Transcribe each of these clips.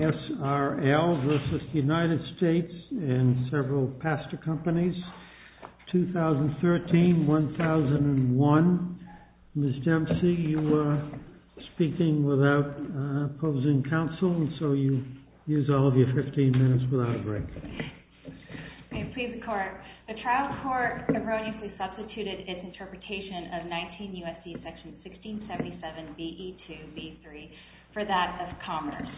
S.R.L. 2013-2001. Ms. Dempsey, you are speaking without opposing counsel, so you use all of your 15 minutes without a break. I plead the court. The trial court erroneously substituted its interpretation of 19 U.S.C. section 1677 v. E2 v. E3 for that of commerce.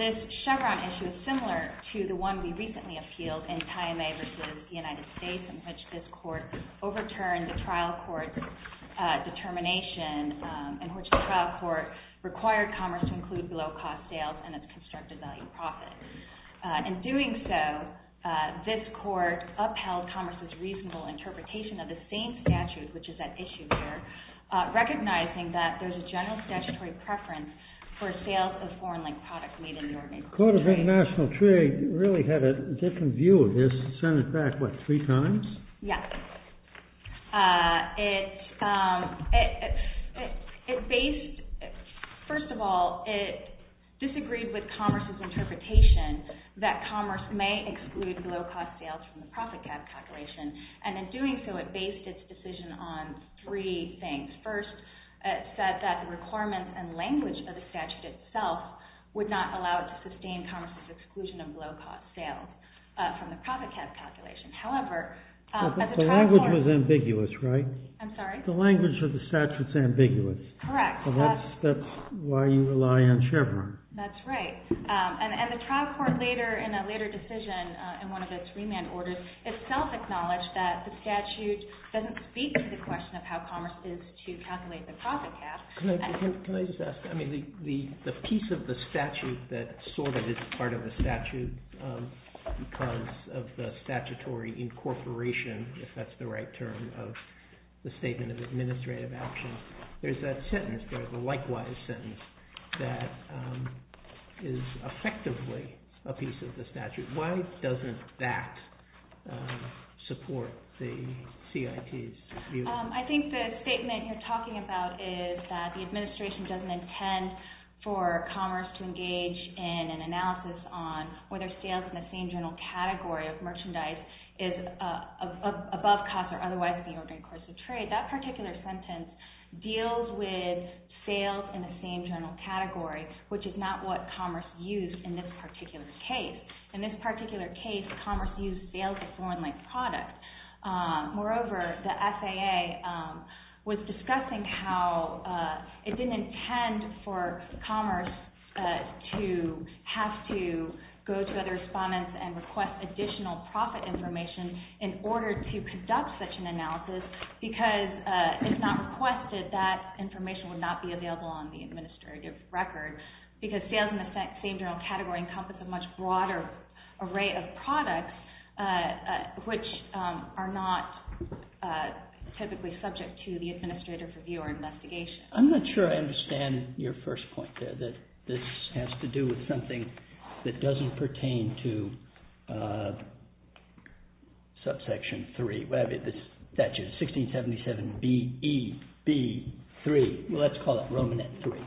This Chevron issue is similar to the one we recently appealed in Taimé v. United States in which this court overturned the trial court's determination in which the trial court required commerce to include below-cost sales and its constructed value profit. In doing so, this court upheld commerce's reasonable interpretation of the same statute which is at issue here, recognizing that there's a general statutory preference for sales of foreign-linked products made in the United States. The Court of International Trade really had a different view of this. It sent it back, what, three times? Yes. First of all, it disagreed with commerce's interpretation that commerce may exclude below-cost sales from the profit cap calculation. And in doing so, it based its decision on three things. First, it said that the requirements and language of the statute itself would not allow it to sustain commerce's exclusion of below-cost sales from the profit cap calculation. However, as a trial court— But the language was ambiguous, right? I'm sorry? The language of the statute's ambiguous. Correct. So that's why you rely on Chevron. That's right. And the trial court, in a later decision, in one of its remand orders, itself acknowledged that the statute doesn't speak to the question of how commerce is to calculate the profit cap. Can I just ask, I mean, the piece of the statute that sort of is part of the statute because of the statutory incorporation, if that's the right term, of the Statement of Administrative Actions, there's that sentence, there's a likewise sentence, that is effectively a piece of the statute. Why doesn't that support the CIT's view? I think the statement you're talking about is that the administration doesn't intend for commerce to engage in an analysis on whether sales in the same general category of merchandise deals with sales in the same general category, which is not what commerce used in this particular case. In this particular case, commerce used sales of foreign-linked products. Moreover, the FAA was discussing how it didn't intend for commerce to have to go to other respondents and request additional profit information in order to conduct such an analysis because if not requested, that information would not be available on the administrative record because sales in the same general category encompass a much broader array of products which are not typically subject to the administrative review or investigation. I'm not sure I understand your first point there, that this has to do with something that doesn't pertain to subsection 3, the statute, 1677 B.E.B. 3. Let's call it Romanet 3.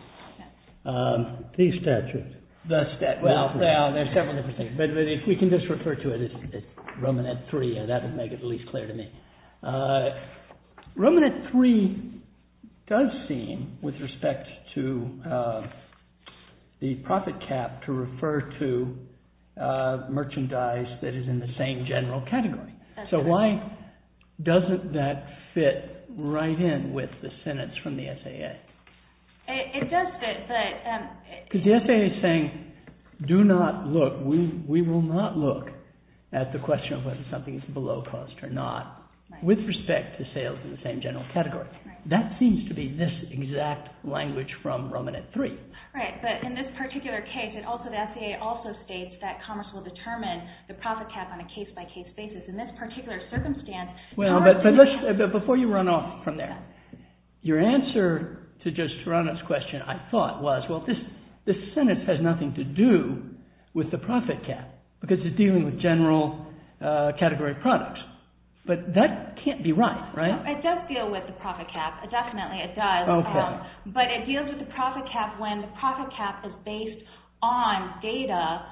The statute. The statute. Well, there are several different things, but if we can just refer to it as Romanet 3, that would make it the least clear to me. Romanet 3 does seem, with respect to the profit cap, to refer to merchandise that is in the same general category. That's correct. So why doesn't that fit right in with the sentence from the FAA? It does fit, but... Because the FAA is saying, do not look, we will not look at the question of whether something is below cost or not, with respect to sales in the same general category. That seems to be this exact language from Romanet 3. Right, but in this particular case, the FAA also states that commerce will determine the profit cap on a case-by-case basis. In this particular circumstance... Before you run off from there, your answer to Judge Serrano's question, I thought, was well, this sentence has nothing to do with the profit cap because it's dealing with general category product. But that can't be right, right? It does deal with the profit cap, definitely it does. Okay. But it deals with the profit cap when the profit cap is based on data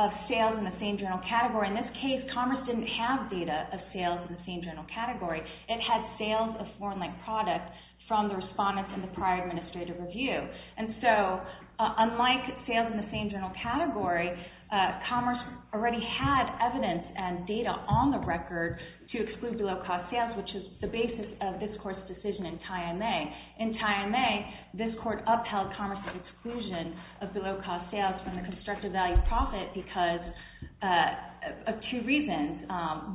of sales in the same general category. In this case, commerce didn't have data of sales in the same general category. It had sales of foreign-linked products from the respondents in the prior administrative review. And so, unlike sales in the same general category, commerce already had evidence and data on the record to exclude below-cost sales, which is the basis of this Court's decision in Tie M.A. In Tie M.A., this Court upheld commerce's exclusion of below-cost sales from the constructed value profit because of two reasons.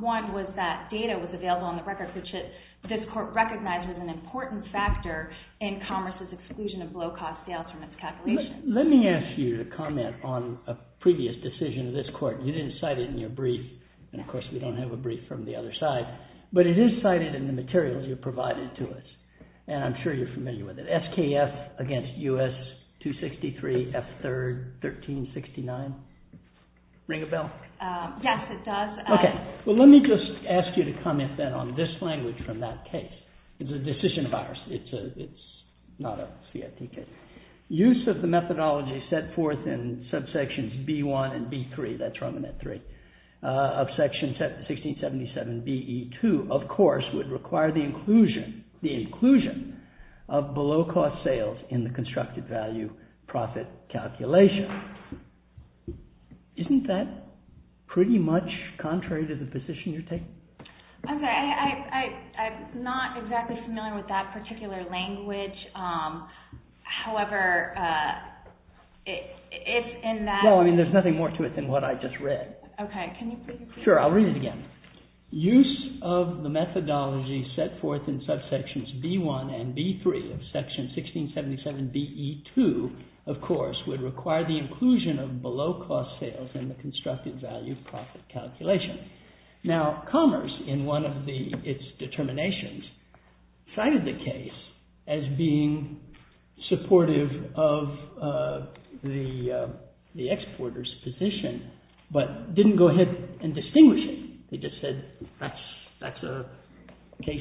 One was that data was available on the record, which this Court recognized as an important factor in commerce's exclusion of below-cost sales from its calculations. Let me ask you to comment on a previous decision of this Court. You didn't cite it in your brief, and of course, we don't have a brief from the other side. But it is cited in the materials you provided to us, and I'm sure you're familiar with it. SKF against U.S. 263 F.3rd 1369. Ring a bell? Yes, it does. Okay. Well, let me just ask you to comment then on this language from that case. It's a decision of ours. It's not a CFPK. Use of the methodology set forth in subsections B.1 and B.3, that's from Annette 3, of section 1677 B.E. 2, of course, would require the inclusion of below-cost sales in the constructed value profit calculation. Isn't that pretty much contrary to the position you're taking? I'm sorry. I'm not exactly familiar with that particular language. However, if in that— Well, I mean, there's nothing more to it than what I just read. Okay. Can you read it again? Sure. I'll read it again. Use of the methodology set forth in subsections B.1 and B.3 of section 1677 B.E. 2, of course, would require the inclusion of below-cost sales in the constructed value profit calculation. Now, Commerce, in one of its determinations, cited the case as being supportive of the exporter's position, but didn't go ahead and distinguish it. They just said, that's a case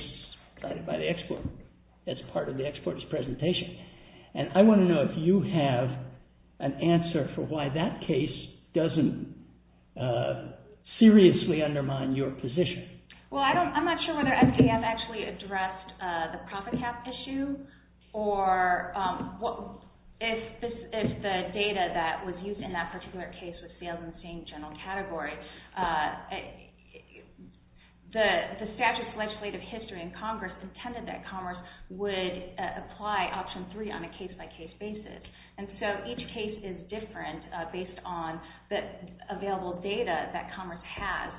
cited by the exporter as part of the exporter's presentation. And I want to know if you have an answer for why that case doesn't seriously undermine your position. Well, I'm not sure whether MPM actually addressed the profit cap issue or if the data that was used in that particular case was sales in the same general category. The statute's legislative history in Congress intended that Commerce would apply option three on a case-by-case basis. And so each case is different based on the available data that Commerce has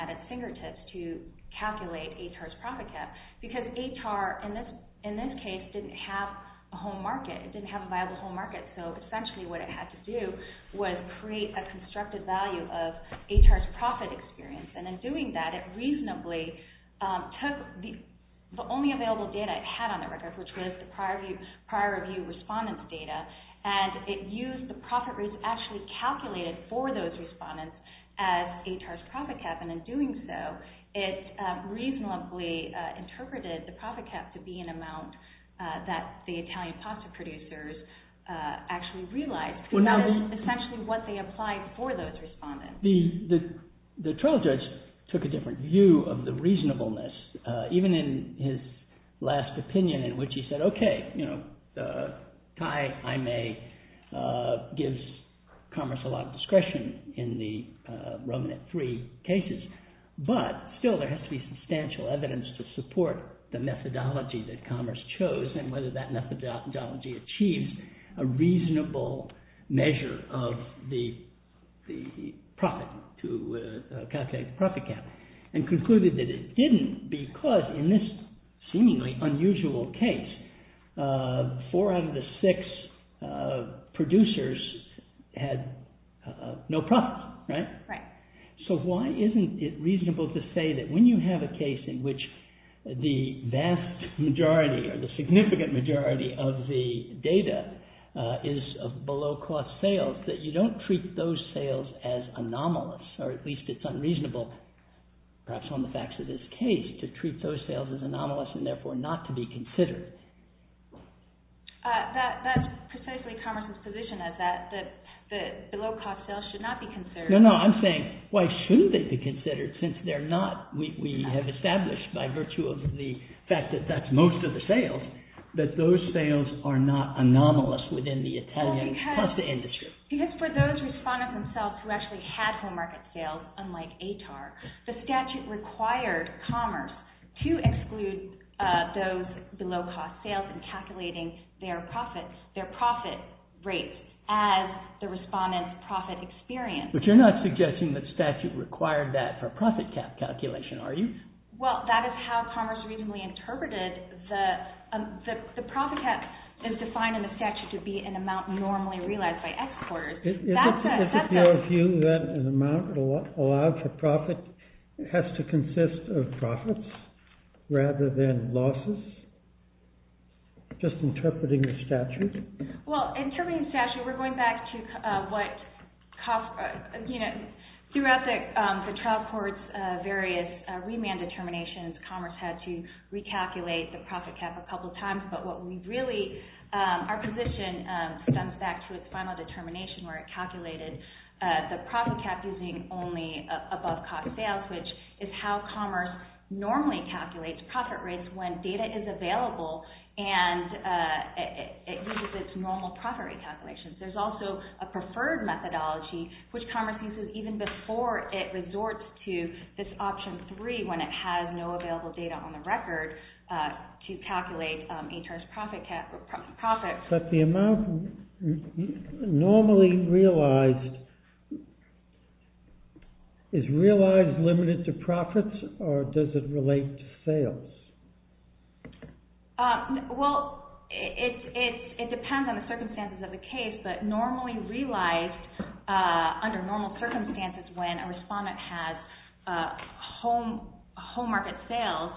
at its fingertips to calculate ATAR's profit cap. Because ATAR, in this case, didn't have a home market. It didn't have a viable home market. So essentially what it had to do was create a constructed value of ATAR's profit experience. And in doing that, it reasonably took the only available data it had on the record, which was the prior review respondent's data, and it used the profit rates actually calculated for those respondents as ATAR's profit cap. And in doing so, it reasonably interpreted the profit cap to be an amount that the Italian pasta producers actually realized. And that is essentially what they applied for those respondents. The trial judge took a different view of the reasonableness, even in his last opinion in which he said, okay, you know, Cai, I may, gives Commerce a lot of discretion in the Roman at three cases. But still, there has to be substantial evidence to support the methodology that Commerce chose and whether that methodology achieves a reasonable measure of the profit to calculate the profit cap. And concluded that it didn't because in this seemingly unusual case, four out of the six producers had no profit. Right? So why isn't it reasonable to say that when you have a case in which the vast majority or the significant majority of the data is of below-cost sales, that you don't treat those sales as anomalous, or at least it's unreasonable, perhaps on the facts of this case, to treat those sales as anomalous and therefore not to be considered? That's precisely Commerce's position, is that the below-cost sales should not be considered. No, no, I'm saying why shouldn't they be considered since they're not, we have established by virtue of the fact that that's most of the sales, that those sales are not anomalous within the Italian pasta industry. Because for those respondents themselves who actually had whole market sales, unlike ATAR, the statute required Commerce to exclude those below-cost sales in calculating their profits, their profit rates, as the respondents' profit experience. But you're not suggesting that statute required that for profit cap calculation, are you? Well, that is how Commerce reasonably interpreted the profit cap is defined in the statute to be an amount normally realized by exporters. Is it your view that an amount allowed for profit has to consist of profits rather than losses? Just interpreting the statute? Well, interpreting the statute, we're going back to what, you know, throughout the trial court's various remand determinations, Commerce had to recalculate the profit cap a couple times. But what we really, our position stems back to its final determination where it calculated the profit cap using only above-cost sales, which is how Commerce normally calculates profit rates when data is available and it uses its normal profit rate calculations. There's also a preferred methodology which Commerce uses even before it resorts to this option 3 when it has no available data on the record to calculate ATAR's profit cap or profits. But the amount normally realized, is realized limited to profits or does it relate to sales? Well, it depends on the circumstances of the case, but normally realized under normal circumstances when a respondent has home market sales,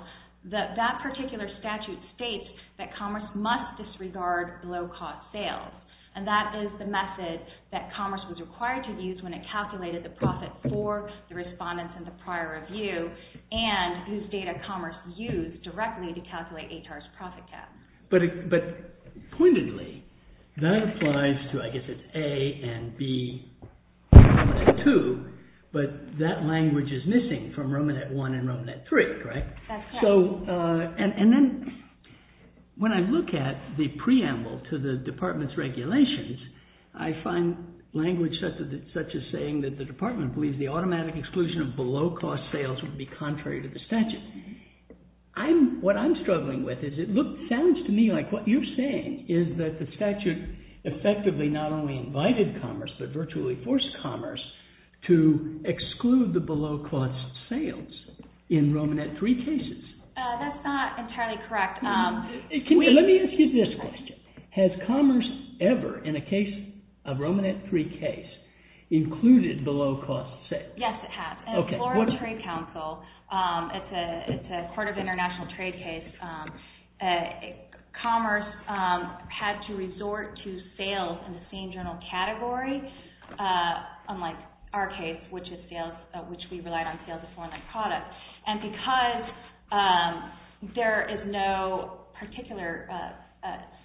that particular statute states that Commerce must disregard low-cost sales. And that is the method that Commerce was required to use when it calculated the profit for the respondents in the prior review and whose data Commerce used directly to calculate ATAR's profit cap. But pointedly, that applies to, I guess it's A and B, Commerce 2, but that language is missing from Romanet 1 and Romanet 3, correct? That's correct. So, and then when I look at the preamble to the department's regulations, I find language such as saying that the department believes that the automatic exclusion of below-cost sales would be contrary to the statute. What I'm struggling with is it sounds to me like what you're saying is that the statute effectively not only invited Commerce, but virtually forced Commerce to exclude the below-cost sales in Romanet 3 cases. That's not entirely correct. Let me ask you this question. Has Commerce ever, in a Romanet 3 case, included below-cost sales? Yes, it has. In the Florida Trade Council, it's a part of the international trade case, Commerce had to resort to sales in the same general category, unlike our case, which we relied on sales of foreign-like products. And because there is no particular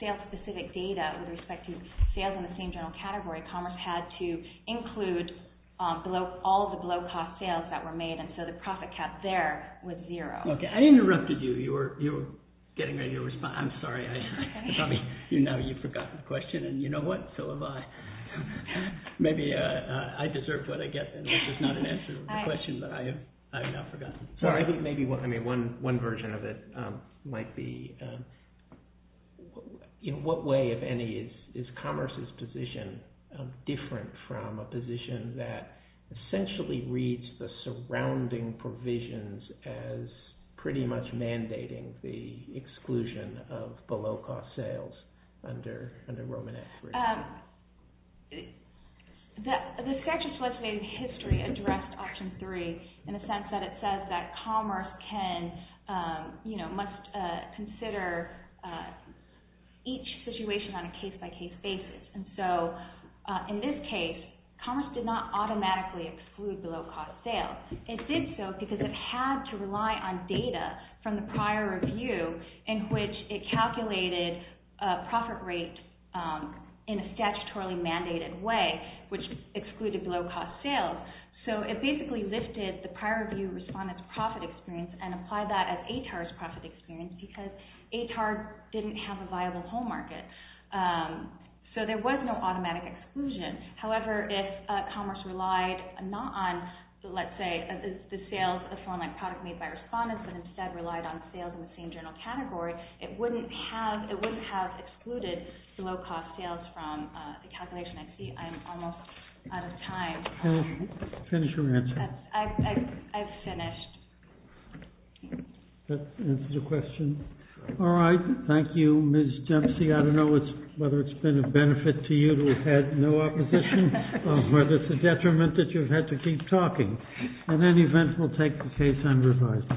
sales-specific data with respect to sales in the same general category, Commerce had to include all of the below-cost sales that were made, and so the profit cap there was zero. Okay, I interrupted you. You were getting ready to respond. I'm sorry. You know you've forgotten the question, and you know what? So have I. Maybe I deserve what I get, unless it's not an answer to the question that I have now forgotten. I think maybe one version of it might be, in what way, if any, is Commerce's position different from a position that essentially reads the surrounding provisions as pretty much mandating the exclusion of below-cost sales under Romanet 3? Well, the statute's legislative history addressed Option 3 in a sense that it says that Commerce can, you know, must consider each situation on a case-by-case basis. And so in this case, Commerce did not automatically exclude below-cost sales. It did so because it had to rely on data from the prior review in which it calculated profit rate in a statutorily mandated way, which excluded below-cost sales. So it basically lifted the prior review respondent's profit experience and applied that as ATAR's profit experience because ATAR didn't have a viable whole market. So there was no automatic exclusion. However, if Commerce relied not on, let's say, the sales of some online product made by respondents, but instead relied on sales in the same general category, it wouldn't have excluded below-cost sales from the calculation. I see I'm almost out of time. Finish your answer. I've finished. That answers the question. All right, thank you, Ms. Dempsey. I don't know whether it's been a benefit to you to have had no opposition or whether it's a detriment that you've had to keep talking. At any event, we'll take the case and revise it.